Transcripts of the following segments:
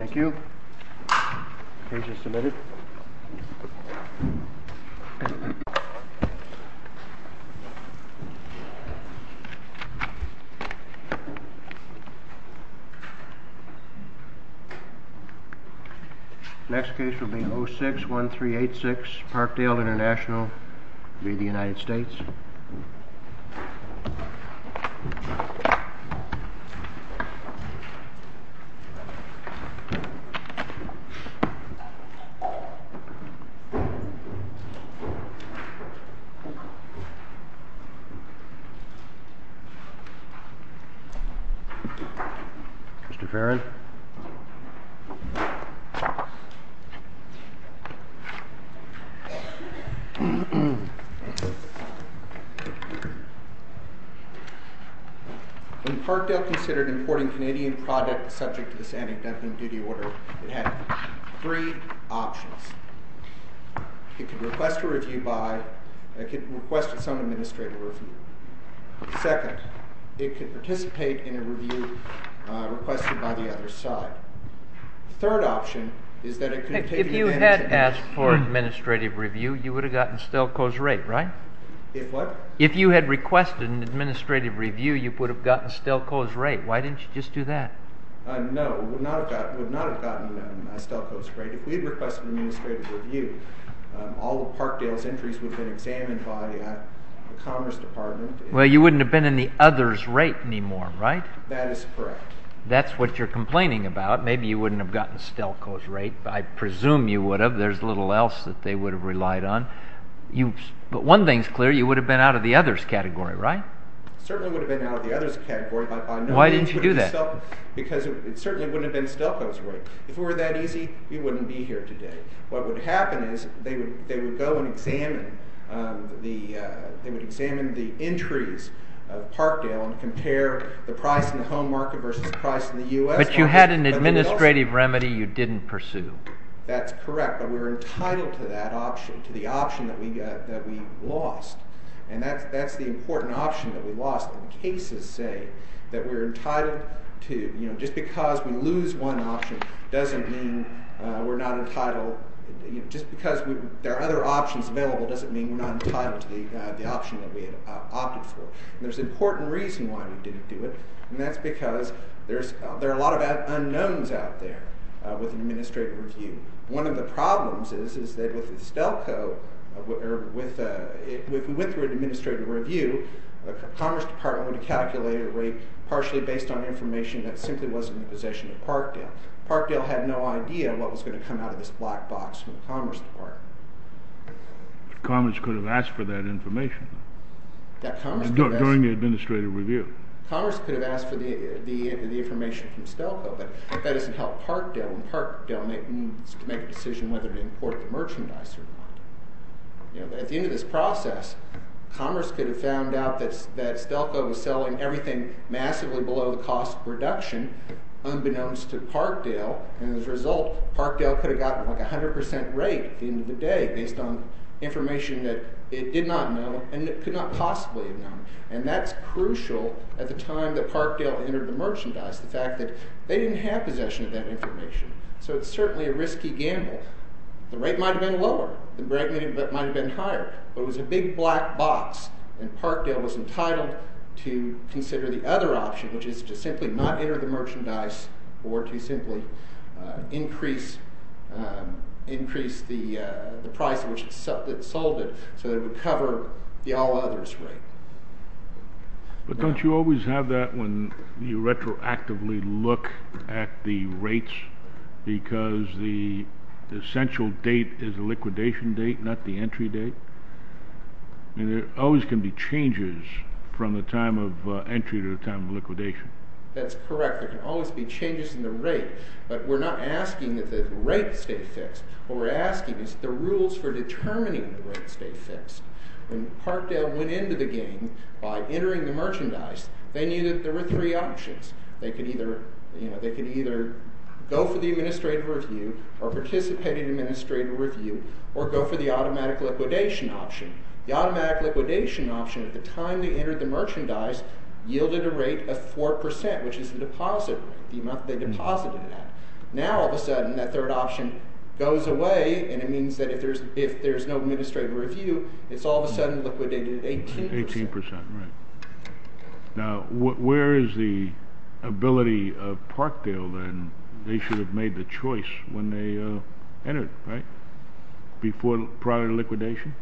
Thank you. Case is submitted. Next case will be 061386 Parkdale Intl v. United States. Mr. Farron. When Parkdale considered importing Canadian products subject to this antediluvian duty order, it had three options. It could request a review by, it could request some administrative review. Second, it could participate in a review requested by the other side. Third option is that it could take advantage of the... If you had asked for an administrative review, you would have gotten Stelco's rate, right? If what? If you had requested an administrative review, you would have gotten Stelco's rate. Why didn't you just do that? No, we would not have gotten Stelco's rate. If we had requested an administrative review, all of Parkdale's entries would have been examined by the Commerce Department. Well, you wouldn't have been in the others' rate anymore, right? That is correct. That's what you're complaining about. Maybe you wouldn't have gotten Stelco's rate. I presume you would have. There's little else that they would have relied on. But one thing's clear, you would have been out of the others' category, right? Certainly would have been out of the others' category, but by no means would it have been... Why didn't you do that? Because it certainly wouldn't have been Stelco's rate. If it were that easy, we wouldn't be here today. What would happen is they would go and examine the entries of Parkdale and compare the price in the home market versus the price in the U.S. market. But you had an administrative remedy you didn't pursue. That's correct, but we're entitled to that option, to the option that we lost. And that's the important option that we lost. Cases say that we're entitled to... Just because we lose one option doesn't mean we're not entitled... Just because there are other options available doesn't mean we're not entitled to the option that we opted for. There's an important reason why we didn't do it, and that's because there are a lot of unknowns out there with an administrative review. One of the problems is that with Stelco, or with... We went through an administrative review. The Commerce Department would have calculated a rate partially based on information that simply wasn't in the possession of Parkdale. Parkdale had no idea what was going to come out of this black box from the Commerce Department. Commerce could have asked for that information. That Commerce could have asked... During the administrative review. Commerce could have asked for the information from Stelco, but that doesn't help Parkdale. And Parkdale needs to make a decision whether to import the merchandise or not. At the end of this process, Commerce could have found out that Stelco was selling everything massively below the cost of production, unbeknownst to Parkdale. And as a result, Parkdale could have gotten a 100% rate at the end of the day based on information that it did not know, and could not possibly have known. And that's crucial at the time that Parkdale entered the merchandise, the fact that they didn't have possession of that information. So it's certainly a risky gamble. The rate might have been lower. The rate might have been higher. But it was a big black box, and Parkdale was entitled to consider the other option, which is to simply not enter the merchandise, or to simply increase the price at which it sold it, so that it would cover the all-others rate. But don't you always have that when you retroactively look at the rates, because the essential date is the liquidation date, not the entry date? I mean, there always can be changes from the time of entry to the time of liquidation. That's correct. There can always be changes in the rate, but we're not asking that the rate stay fixed. What we're asking is the rules for determining the rate stay fixed. When Parkdale went into the game by entering the merchandise, they knew that there were three options. They could either go for the administrative review, or participate in administrative review, or go for the automatic liquidation option. The automatic liquidation option, at the time they entered the merchandise, yielded a rate of 4%, which is the deposit, the amount they deposited that. Now, all of a sudden, that third option goes away, and it means that if there's no administrative review, it's all of a sudden liquidated at 18%. Now, where is the ability of Parkdale, then? They should have made the choice when they entered, right? Before prior liquidation?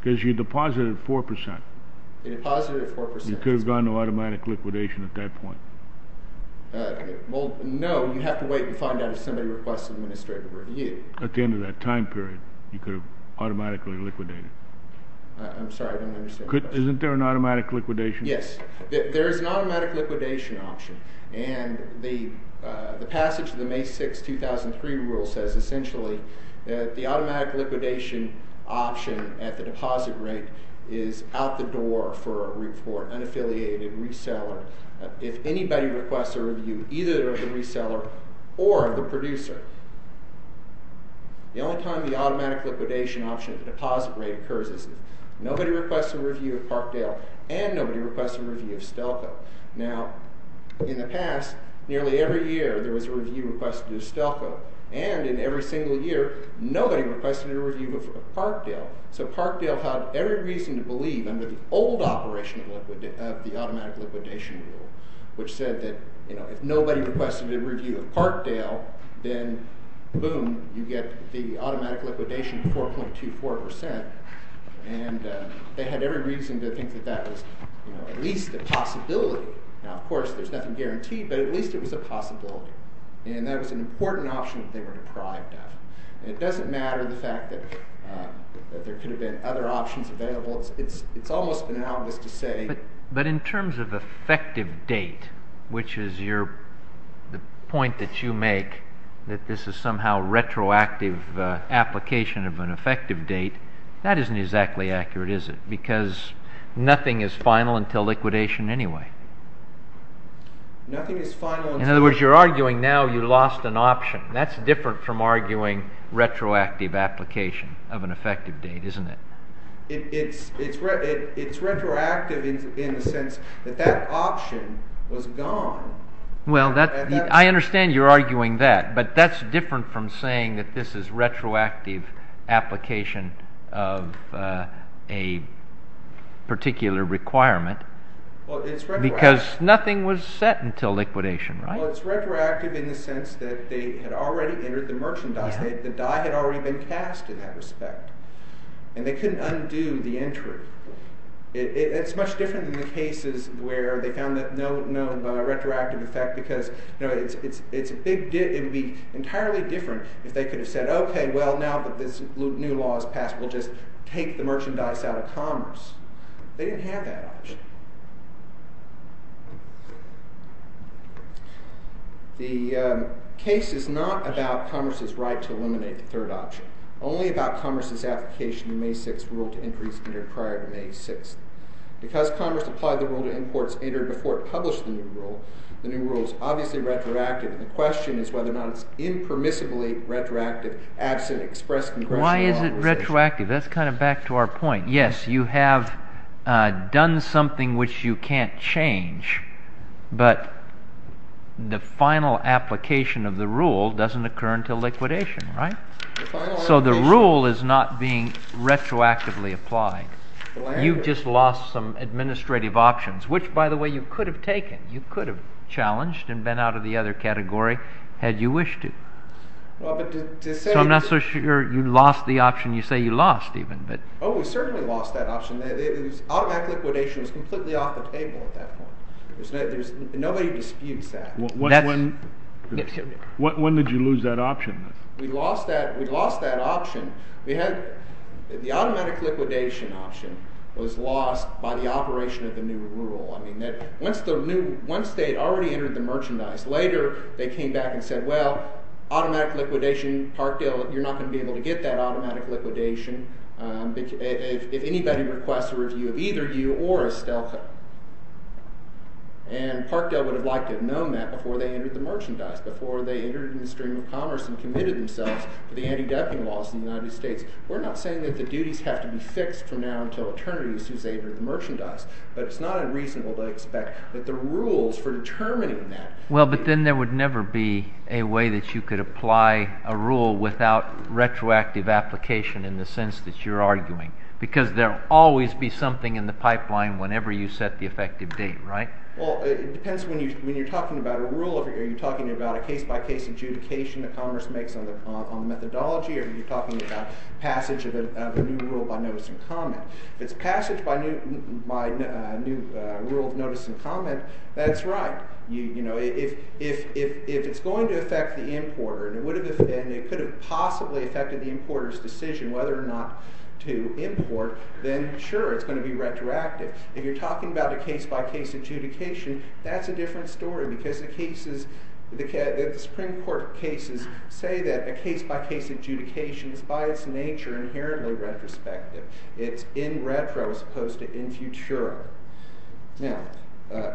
Because you deposited 4%. They deposited 4%. You could have gone to automatic liquidation at that point. Well, no. You have to wait and find out if somebody requests administrative review. At the end of that time period, you could have automatically liquidated. I'm sorry. I don't understand the question. Isn't there an automatic liquidation? Yes. There is an automatic liquidation option. And the passage of the May 6, 2003 rule says, essentially, that the automatic liquidation option at the deposit rate is out the door for an affiliated reseller. If anybody requests a review, either the reseller or the producer, the only time the automatic liquidation option at the deposit rate occurs is if nobody requests a review, and nobody requests a review of Stelco. Now, in the past, nearly every year, there was a review requested of Stelco. And in every single year, nobody requested a review of Parkdale. So Parkdale had every reason to believe under the old operation of the automatic liquidation rule, which said that if nobody requested a review of Parkdale, then, boom, you get the automatic liquidation at 4.24%. And they had every reason to think that that was at least a possibility. Now, of course, there's nothing guaranteed, but at least it was a possibility. And that was an important option that they were deprived of. And it doesn't matter the fact that there could have been other options available. It's almost banal of us to say— The point that you make, that this is somehow retroactive application of an effective date, that isn't exactly accurate, is it? Because nothing is final until liquidation anyway. In other words, you're arguing now you lost an option. That's different from arguing retroactive application of an effective date, isn't it? It's retroactive in the sense that that option was gone. Well, I understand you're arguing that, but that's different from saying that this is retroactive application of a particular requirement. Because nothing was set until liquidation, right? Well, it's retroactive in the sense that they had already entered the merchandise. The die had already been cast in that respect. And they couldn't undo the entry. It's much different than the cases where they found that no retroactive effect because it would be entirely different if they could have said, Okay, well, now that this new law is passed, we'll just take the merchandise out of commerce. They didn't have that option. The case is not about commerce's right to eliminate the third option. It's only about commerce's application of the May 6th rule to increase it prior to May 6th. Because commerce applied the rule to imports before it published the new rule, the new rule is obviously retroactive. And the question is whether or not it's impermissibly retroactive absent express congressional authorization. Why is it retroactive? That's kind of back to our point. Yes, you have done something which you can't change. But the final application of the rule doesn't occur until liquidation, right? So the rule is not being retroactively applied. You've just lost some administrative options, which, by the way, you could have taken. You could have challenged and been out of the other category had you wished to. So I'm not so sure you lost the option. You say you lost even. Oh, we certainly lost that option. Automatic liquidation is completely off the table at that point. Nobody disputes that. When did you lose that option? We lost that option. The automatic liquidation option was lost by the operation of the new rule. Once they had already entered the merchandise, later they came back and said, well, automatic liquidation, Parkdale, you're not going to be able to get that automatic liquidation if anybody requests a review of either you or Estelco. And Parkdale would have liked to have known that before they entered the merchandise, before they entered in the stream of commerce and committed themselves to the anti-dumping laws in the United States. We're not saying that the duties have to be fixed from now until eternity since they entered the merchandise. But it's not unreasonable to expect that the rules for determining that— Well, but then there would never be a way that you could apply a rule without retroactive application in the sense that you're arguing, because there will always be something in the pipeline whenever you set the effective date, right? Well, it depends when you're talking about a rule. Are you talking about a case-by-case adjudication that commerce makes on the methodology, or are you talking about passage of a new rule by notice and comment? If it's passage by new rule, notice, and comment, that's right. If it's going to affect the importer and it could have possibly affected the importer's decision whether or not to import, then sure, it's going to be retroactive. If you're talking about a case-by-case adjudication, that's a different story because the cases— the Supreme Court cases say that a case-by-case adjudication is by its nature inherently retrospective. It's in retro as opposed to in futuro. Now,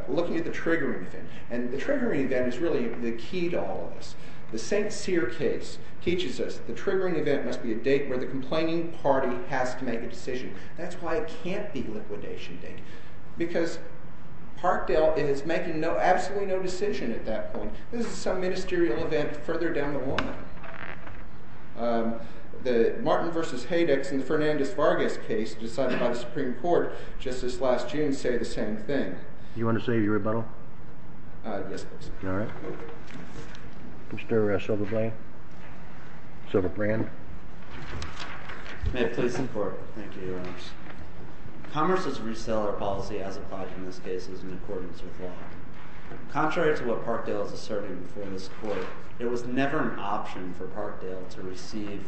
looking at the triggering event, and the triggering event is really the key to all of this. The St. Cyr case teaches us the triggering event must be a date where the complaining party has to make a decision. That's why it can't be liquidation date. Because Parkdale is making absolutely no decision at that point. This is some ministerial event further down the line. The Martin v. Haydex and the Fernandez-Vargas case decided by the Supreme Court just this last June say the same thing. Do you want to say your rebuttal? Yes, please. All right. Mr. Silverbrand? Mr. Silverbrand? May it please the Court. Thank you, Your Honors. Commerce's reseller policy as applied in this case is in accordance with law. Contrary to what Parkdale is asserting before this Court, it was never an option for Parkdale to receive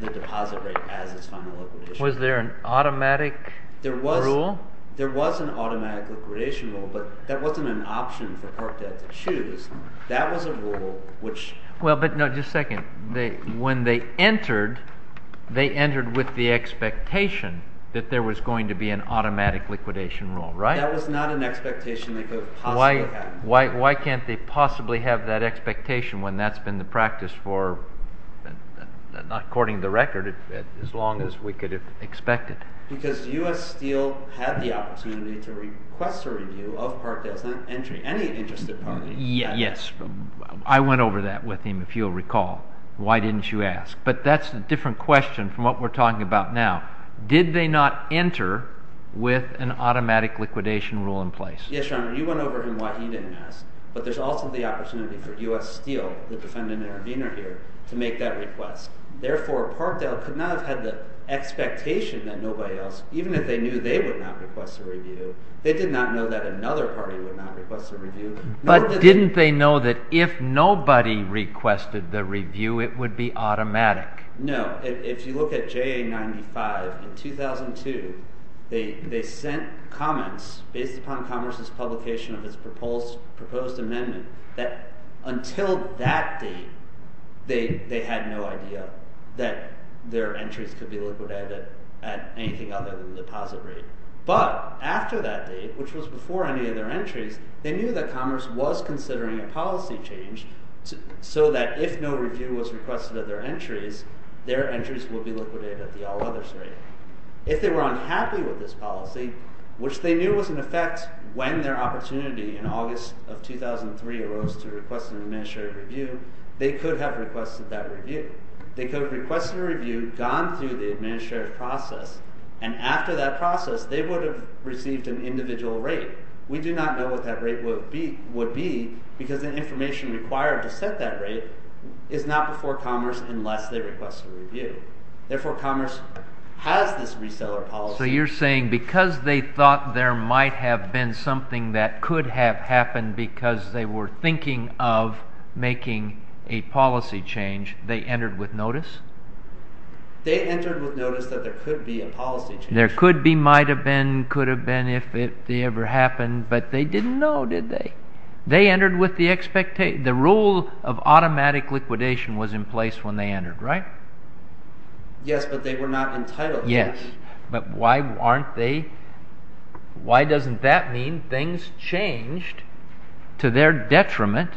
the deposit rate as its final liquidation. Was there an automatic rule? There was an automatic liquidation rule, but that wasn't an option for Parkdale to choose. That was a rule which— Well, but no, just a second. When they entered, they entered with the expectation that there was going to be an automatic liquidation rule, right? That was not an expectation that could possibly happen. Why can't they possibly have that expectation when that's been the practice for, according to the record, as long as we could expect it? Because U.S. Steel had the opportunity to request a review of Parkdale's entry. Any interested party— Yes. I went over that with him, if you'll recall. Why didn't you ask? But that's a different question from what we're talking about now. Did they not enter with an automatic liquidation rule in place? Yes, Your Honor. You went over him why he didn't ask, but there's also the opportunity for U.S. Steel, the defendant intervener here, to make that request. Therefore, Parkdale could not have had the expectation that nobody else, even if they knew they would not request a review, they did not know that another party would not request a review. But didn't they know that if nobody requested the review, it would be automatic? No. If they were unhappy with this policy, which they knew was in effect when their opportunity in August of 2003 arose to request an administrative review, they could have requested that review. They could have requested a review, gone through the administrative process, and after that process, they would have received an individual rate. We do not know what that rate would be because the information required to set that rate is not before Commerce unless they request a review. Therefore, Commerce has this reseller policy. So you're saying because they thought there might have been something that could have happened because they were thinking of making a policy change, they entered with notice? They entered with notice that there could be a policy change. There could be, might have been, could have been if they ever happened, but they didn't know, did they? They entered with the expectation. The rule of automatic liquidation was in place when they entered, right? Yes, but they were not entitled to it. Yes, but why aren't they? Why doesn't that mean things changed to their detriment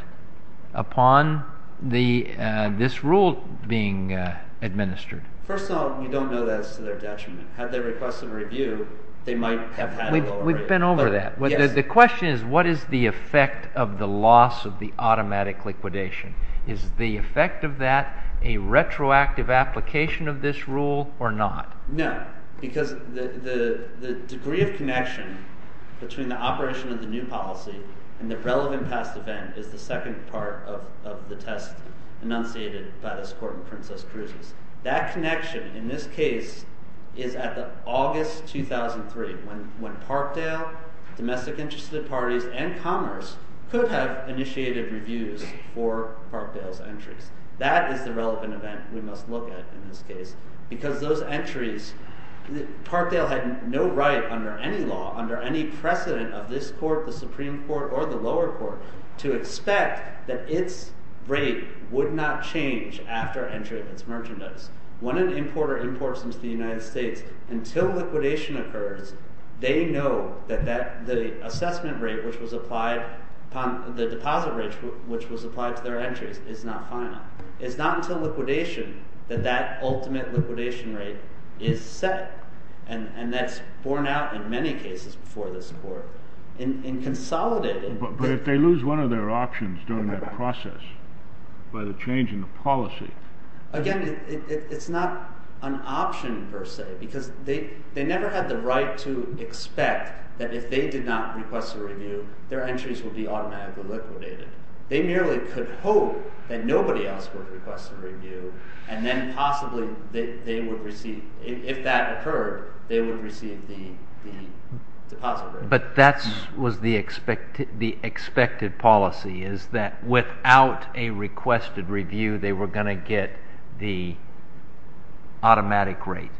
upon this rule being administered? First of all, we don't know that it's to their detriment. Had they requested a review, they might have had a lower rate. We've been over that. The question is what is the effect of the loss of the automatic liquidation? Is the effect of that a retroactive application of this rule or not? No, because the degree of connection between the operation of the new policy and the relevant past event is the second part of the test enunciated by this Court in Princess Cruz's. That connection in this case is at August 2003 when Parkdale, domestic interested parties, and Commerce could have initiated reviews for Parkdale's entries. That is the relevant event we must look at in this case because those entries, Parkdale had no right under any law, under any precedent of this Court, the Supreme Court, or the lower court to expect that its rate would not change after entry of its merchandise. When an importer imports into the United States, until liquidation occurs, they know that the assessment rate which was applied, the deposit rate which was applied to their entries is not final. It's not until liquidation that that ultimate liquidation rate is set, and that's borne out in many cases before this Court and consolidated. But if they lose one of their options during that process by the change in the policy… Again, it's not an option per se because they never had the right to expect that if they did not request a review, their entries would be automatically liquidated. They merely could hope that nobody else would request a review and then possibly they would receive, if that occurred, they would receive the deposit rate. But that was the expected policy, is that without a requested review they were going to get the automatic rate?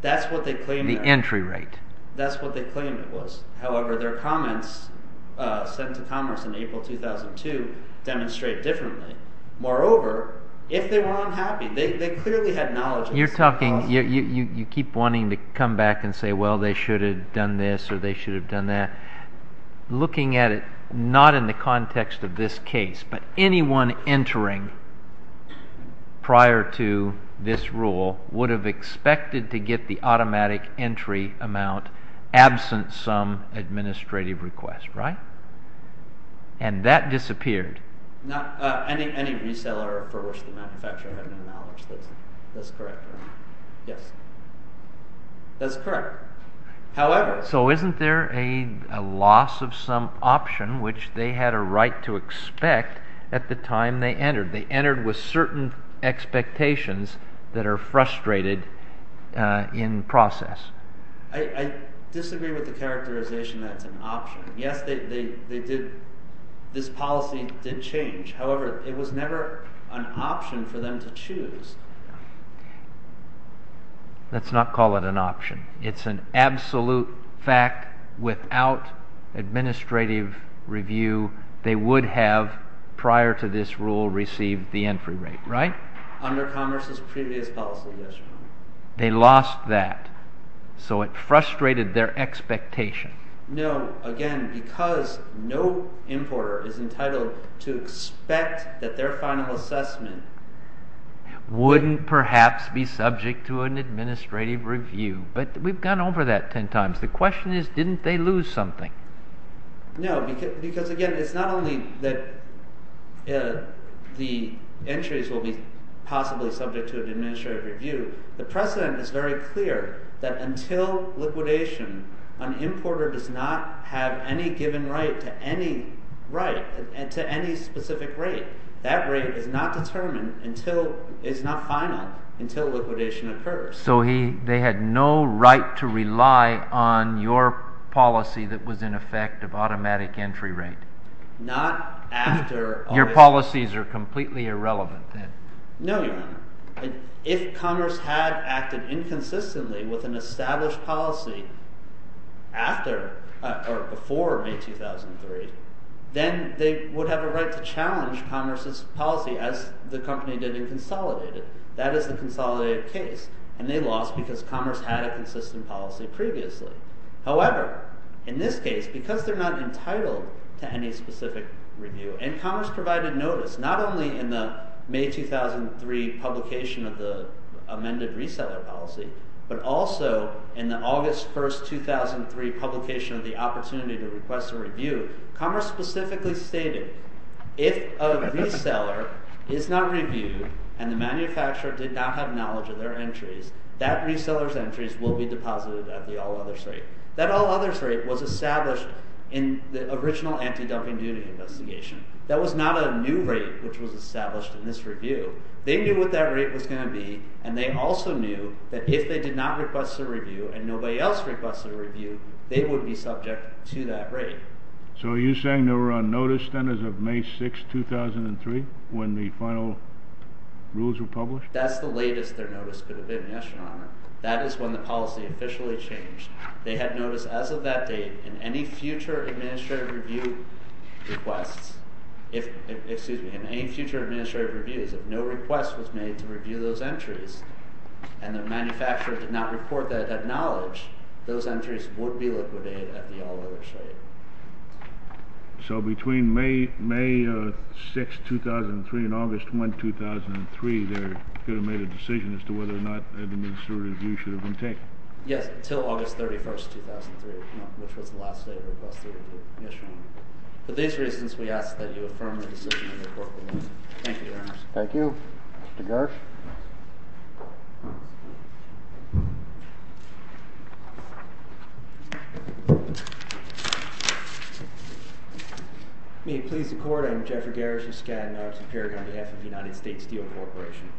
That's what they claimed. The entry rate. That's what they claimed it was. However, their comments sent to Commerce in April 2002 demonstrate differently. Moreover, if they were unhappy, they clearly had knowledge… You keep wanting to come back and say, well, they should have done this or they should have done that. Looking at it, not in the context of this case, but anyone entering prior to this rule would have expected to get the automatic entry amount absent some administrative request, right? And that disappeared. Any reseller for which the manufacturer had no knowledge, that's correct, right? Yes. That's correct. However… So isn't there a loss of some option which they had a right to expect at the time they entered? They entered with certain expectations that are frustrated in process. I disagree with the characterization that it's an option. Yes, this policy did change. However, it was never an option for them to choose. Let's not call it an option. It's an absolute fact without administrative review they would have, prior to this rule, received the entry rate, right? Under Commerce's previous policy, yes, Your Honor. They lost that. So it frustrated their expectation. No, again, because no importer is entitled to expect that their final assessment… Wouldn't perhaps be subject to an administrative review. But we've gone over that ten times. The question is, didn't they lose something? No, because again, it's not only that the entries will be possibly subject to an administrative review. The precedent is very clear that until liquidation, an importer does not have any given right to any specific rate. That rate is not determined until it's not final, until liquidation occurs. So they had no right to rely on your policy that was in effect of automatic entry rate. Not after… Your policies are completely irrelevant then. No, Your Honor. If Commerce had acted inconsistently with an established policy before May 2003, then they would have a right to challenge Commerce's policy as the company did in Consolidated. That is the Consolidated case, and they lost because Commerce had a consistent policy previously. However, in this case, because they're not entitled to any specific review, and Commerce provided notice not only in the May 2003 publication of the amended reseller policy, but also in the August 1, 2003 publication of the opportunity to request a review, Commerce specifically stated if a reseller is not reviewed and the manufacturer did not have knowledge of their entries, that reseller's entries will be deposited at the all others rate. That all others rate was established in the original anti-dumping duty investigation. That was not a new rate which was established in this review. They knew what that rate was going to be, and they also knew that if they did not request a review and nobody else requested a review, they would be subject to that rate. So you're saying they were on notice then as of May 6, 2003 when the final rules were published? That's the latest their notice could have been, Yes, Your Honor. That is when the policy officially changed. They had notice as of that date in any future administrative review requests, excuse me, in any future administrative reviews, if no request was made to review those entries and the manufacturer did not report that knowledge, those entries would be liquidated at the all others rate. So between May 6, 2003 and August 1, 2003, they could have made a decision as to whether or not an administrative review should have been taken? Yes, until August 31, 2003, which was the last date they requested an administrative review. For these reasons, we ask that you affirm the decision and report the ruling. Thank you, Your Honor. Thank you. Mr. Gersh. May it please the Court, I am Jeffrey Gersh of Skadden, R.T. Paragon, on behalf of the United States Steel Corporation.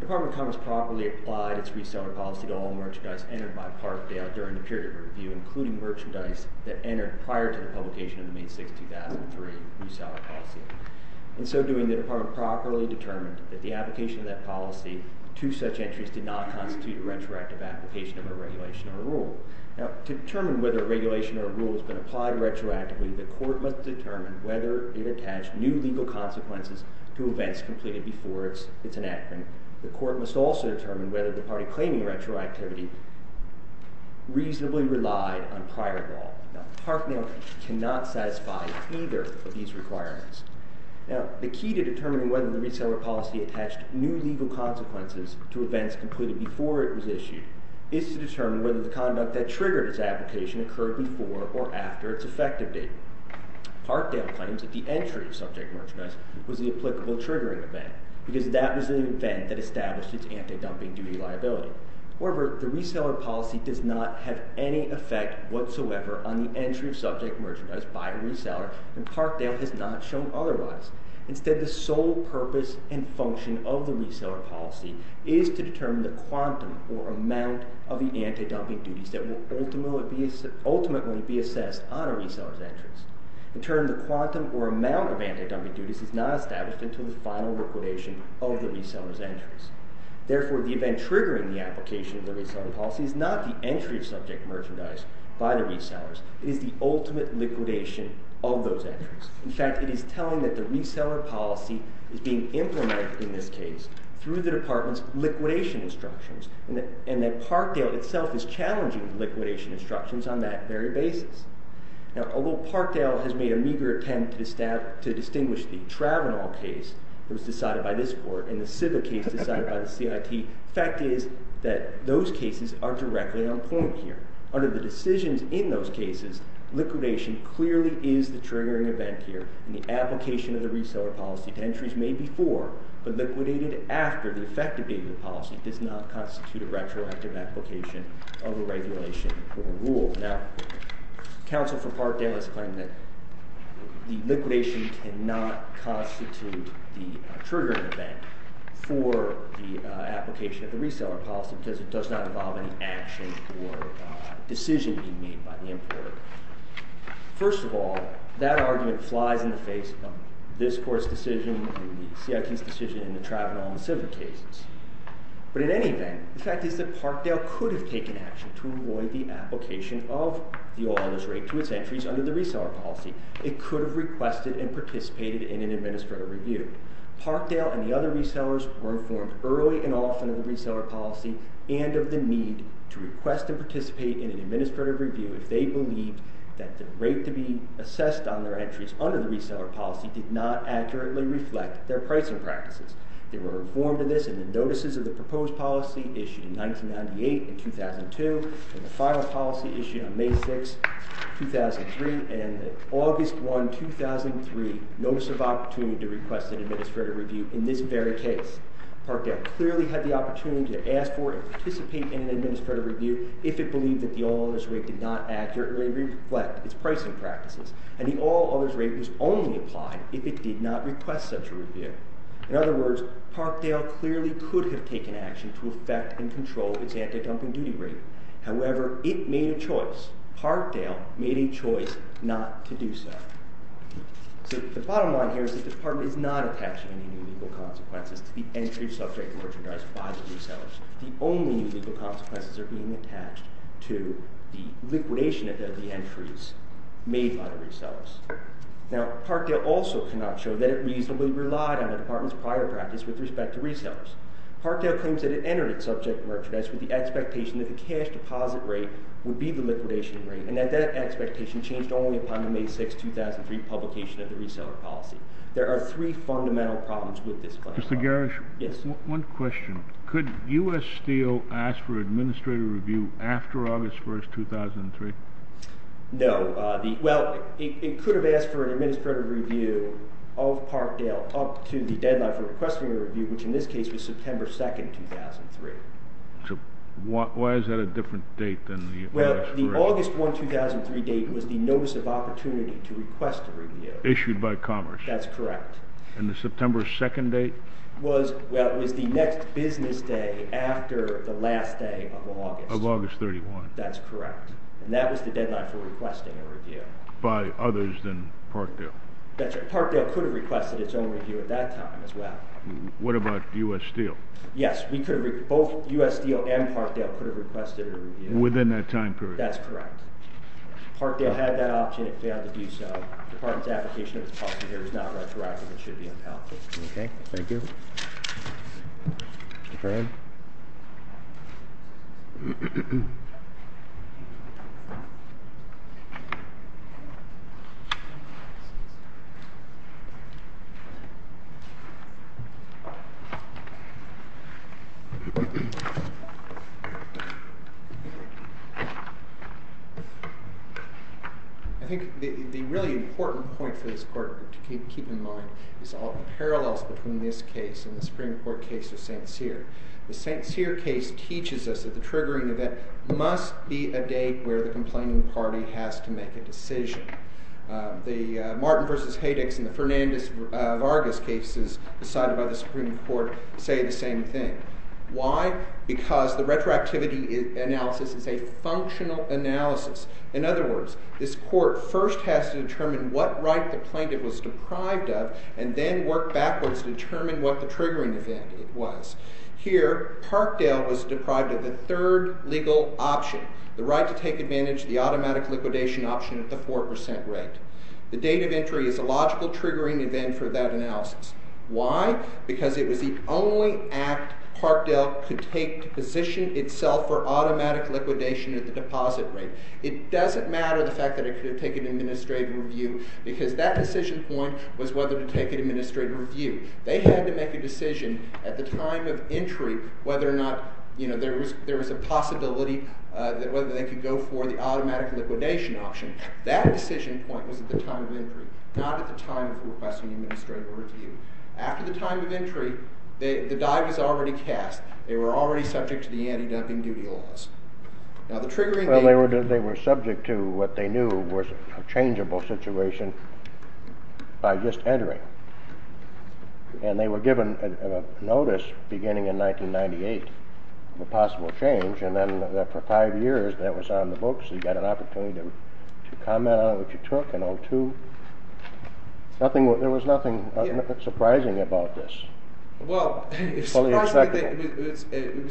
The Department of Commerce properly applied its reseller policy to all merchandise entered by Parkdale during the period of review, including merchandise that entered prior to the publication of the May 6, 2003 reseller policy. In so doing, the Department properly determined that the application of that policy to such entries did not constitute a retroactive application of a regulation or a rule. Now, to determine whether a regulation or a rule has been applied retroactively, the Court must determine whether it attached new legal consequences to events completed before its enactment. The Court must also determine whether the party claiming retroactivity reasonably relied on prior law. Now, Parkdale cannot satisfy either of these requirements. Now, the key to determining whether the reseller policy attached new legal consequences to events completed before it was issued is to determine whether the conduct that triggered its application occurred before or after its effective date. Parkdale claims that the entry of subject merchandise was the applicable triggering event because that was the event that established its anti-dumping duty liability. However, the reseller policy does not have any effect whatsoever on the entry of subject merchandise by a reseller, and Parkdale has not shown otherwise. Instead, the sole purpose and function of the reseller policy is to determine the quantum or amount of the anti-dumping duties that will ultimately be assessed on a reseller's entrance. In turn, the quantum or amount of anti-dumping duties is not established until the final liquidation of the reseller's entrance. Therefore, the event triggering the application of the reseller policy is not the entry of subject merchandise by the resellers. It is the ultimate liquidation of those entries. In fact, it is telling that the reseller policy is being implemented in this case through the Department's liquidation instructions, and that Parkdale itself is challenging the liquidation instructions on that very basis. Now, although Parkdale has made a meager attempt to distinguish the travonal case that was decided by this court and the civil case decided by the CIT, the fact is that those cases are directly on point here. Under the decisions in those cases, liquidation clearly is the triggering event here, and the application of the reseller policy to entries made before but liquidated after the effective date of the policy does not constitute a retroactive application of a regulation or a rule. Now, counsel for Parkdale has claimed that the liquidation cannot constitute the triggering event for the application of the reseller policy because it does not involve any action or decision being made by the importer. First of all, that argument flies in the face of this court's decision and the CIT's decision and the travonal and the civil cases. But in any event, the fact is that Parkdale could have taken action to avoid the application of the oil on this rate to its entries under the reseller policy. It could have requested and participated in an administrative review. Parkdale and the other resellers were informed early and often of the reseller policy and of the need to request and participate in an administrative review if they believed that the rate to be assessed on their entries under the reseller policy did not accurately reflect their pricing practices. They were informed of this in the notices of the proposed policy issued in 1998 and 2002 and the final policy issued on May 6, 2003 and the August 1, 2003 notice of opportunity to request an administrative review in this very case. Parkdale clearly had the opportunity to ask for and participate in an administrative review if it believed that the oil on this rate did not accurately reflect its pricing practices. And the oil on this rate was only applied if it did not request such a review. In other words, Parkdale clearly could have taken action to affect and control its anti-dumping duty rate. However, it made a choice. Parkdale made a choice not to do so. So the bottom line here is that the Department is not attaching any new legal consequences to the entries subject to merchandise by the resellers. The only new legal consequences are being attached to the liquidation of the entries made by the resellers. Now, Parkdale also cannot show that it reasonably relied on the Department's prior practice with respect to resellers. Parkdale claims that it entered its subject merchandise with the expectation that the cash deposit rate would be the liquidation rate and that that expectation changed only upon the May 6, 2003 publication of the reseller policy. There are three fundamental problems with this plan. Mr. Garish? Yes. One question. Could U.S. Steel ask for administrative review after August 1, 2003? No. Well, it could have asked for an administrative review of Parkdale up to the deadline for requesting a review, which in this case was September 2, 2003. So why is that a different date than the U.S. review? Well, the August 1, 2003 date was the notice of opportunity to request a review. Issued by Commerce. That's correct. And the September 2nd date? Well, it was the next business day after the last day of August. Of August 31. That's correct. And that was the deadline for requesting a review. By others than Parkdale? That's right. Parkdale could have requested its own review at that time as well. What about U.S. Steel? Yes. Both U.S. Steel and Parkdale could have requested a review. Within that time period? That's correct. Parkdale had that option. It failed to do so. The department's application was positive. It was not retroactive. It should be impalpable. Okay. Thank you. Mr. Kern? I think the really important point for this court to keep in mind is all the parallels between this case and the Supreme Court case of St. Cyr. The St. Cyr case teaches us that the triggering event must be a date where the complaining party has to make a decision. The Martin v. Haydix and the Fernandez-Vargas cases decided by the Supreme Court say the same thing. Why? Because the retroactivity analysis is a functional analysis. In other words, this court first has to determine what right the plaintiff was deprived of and then work backwards to determine what the triggering event was. Here, Parkdale was deprived of the third legal option, the right to take advantage of the automatic liquidation option at the 4% rate. The date of entry is a logical triggering event for that analysis. Why? Because it was the only act Parkdale could take to position itself for automatic liquidation at the deposit rate. It doesn't matter the fact that it could have taken administrative review because that decision point was whether to take an administrative review. They had to make a decision at the time of entry whether or not there was a possibility whether they could go for the automatic liquidation option. That decision point was at the time of entry, not at the time of requesting administrative review. After the time of entry, the die was already cast. They were already subject to the anti-dumping duty laws. They were subject to what they knew was a changeable situation by just entering. They were given a notice beginning in 1998, the possible change, and then for five years that was on the books. You got an opportunity to comment on what you took in 02. There was nothing surprising about this. Well, it was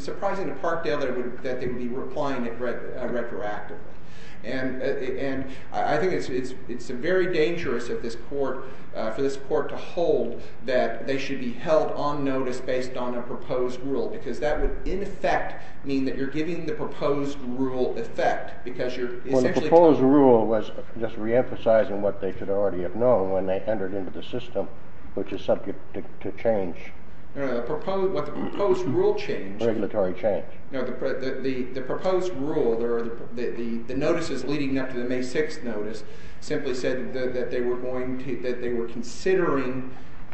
surprising to Parkdale that they would be replying retroactively. And I think it's very dangerous for this court to hold that they should be held on notice based on a proposed rule because that would, in effect, mean that you're giving the proposed rule effect because you're essentially- Well, the proposed rule was just reemphasizing what they should already have known when they What the proposed rule changed- Regulatory change. The proposed rule, the notices leading up to the May 6th notice simply said that they were considering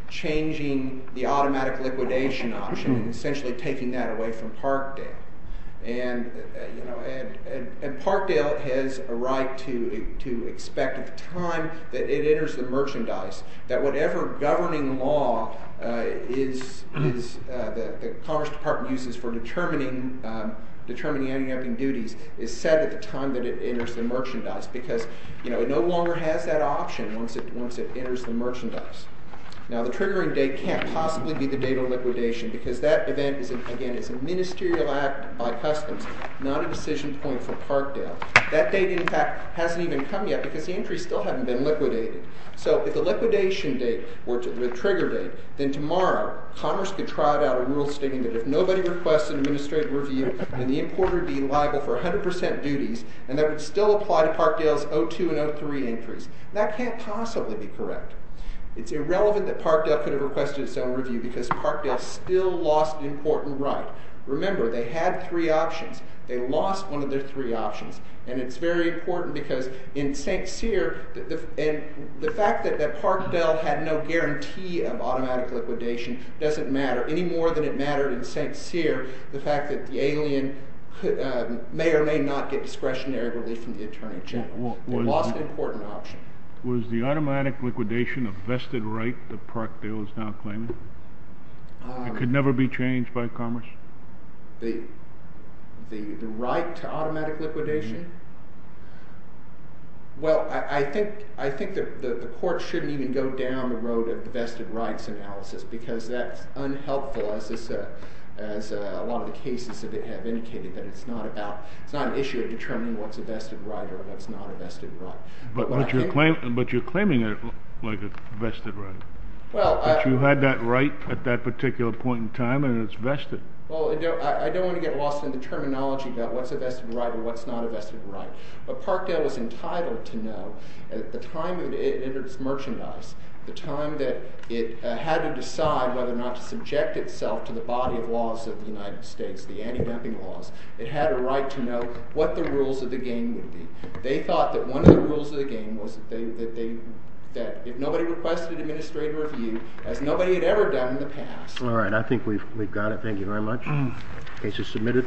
changing the automatic liquidation option, essentially taking that away from Parkdale. And Parkdale has a right to expect at the time that it enters the merchandise that whatever governing law the Congress Department uses for determining anti-narking duties is set at the time that it enters the merchandise because it no longer has that option once it enters the merchandise. Now, the triggering date can't possibly be the date of liquidation because that event is, again, a ministerial act by customs, not a decision point for Parkdale. That date, in fact, hasn't even come yet because the entries still haven't been liquidated. So if the liquidation date were the trigger date, then tomorrow Congress could try out a rule stating that if nobody requests an administrative review, then the importer would be liable for 100% duties, and that would still apply to Parkdale's 02 and 03 entries. That can't possibly be correct. It's irrelevant that Parkdale could have requested its own review because Parkdale still lost an important right. Remember, they had three options. They lost one of their three options. And it's very important because in St. Cyr, the fact that Parkdale had no guarantee of automatic liquidation doesn't matter any more than it mattered in St. Cyr the fact that the alien may or may not get discretionary relief from the Attorney General. They lost an important option. Was the automatic liquidation a vested right that Parkdale is now claiming? It could never be changed by Congress? The right to automatic liquidation? Well, I think the court shouldn't even go down the road of the vested rights analysis because that's unhelpful as a lot of the cases have indicated that it's not an issue of determining what's a vested right or what's not a vested right. But you're claiming it like a vested right. But you had that right at that particular point in time and it's vested. Well, I don't want to get lost in the terminology about what's a vested right or what's not a vested right. But Parkdale was entitled to know at the time it entered its merchandise, the time that it had to decide whether or not to subject itself to the body of laws of the United States, the anti-dumping laws. It had a right to know what the rules of the game would be. They thought that one of the rules of the game was that if nobody requested administrative review, as nobody had ever done in the past. All right. I think we've got it. Thank you very much. Case is submitted.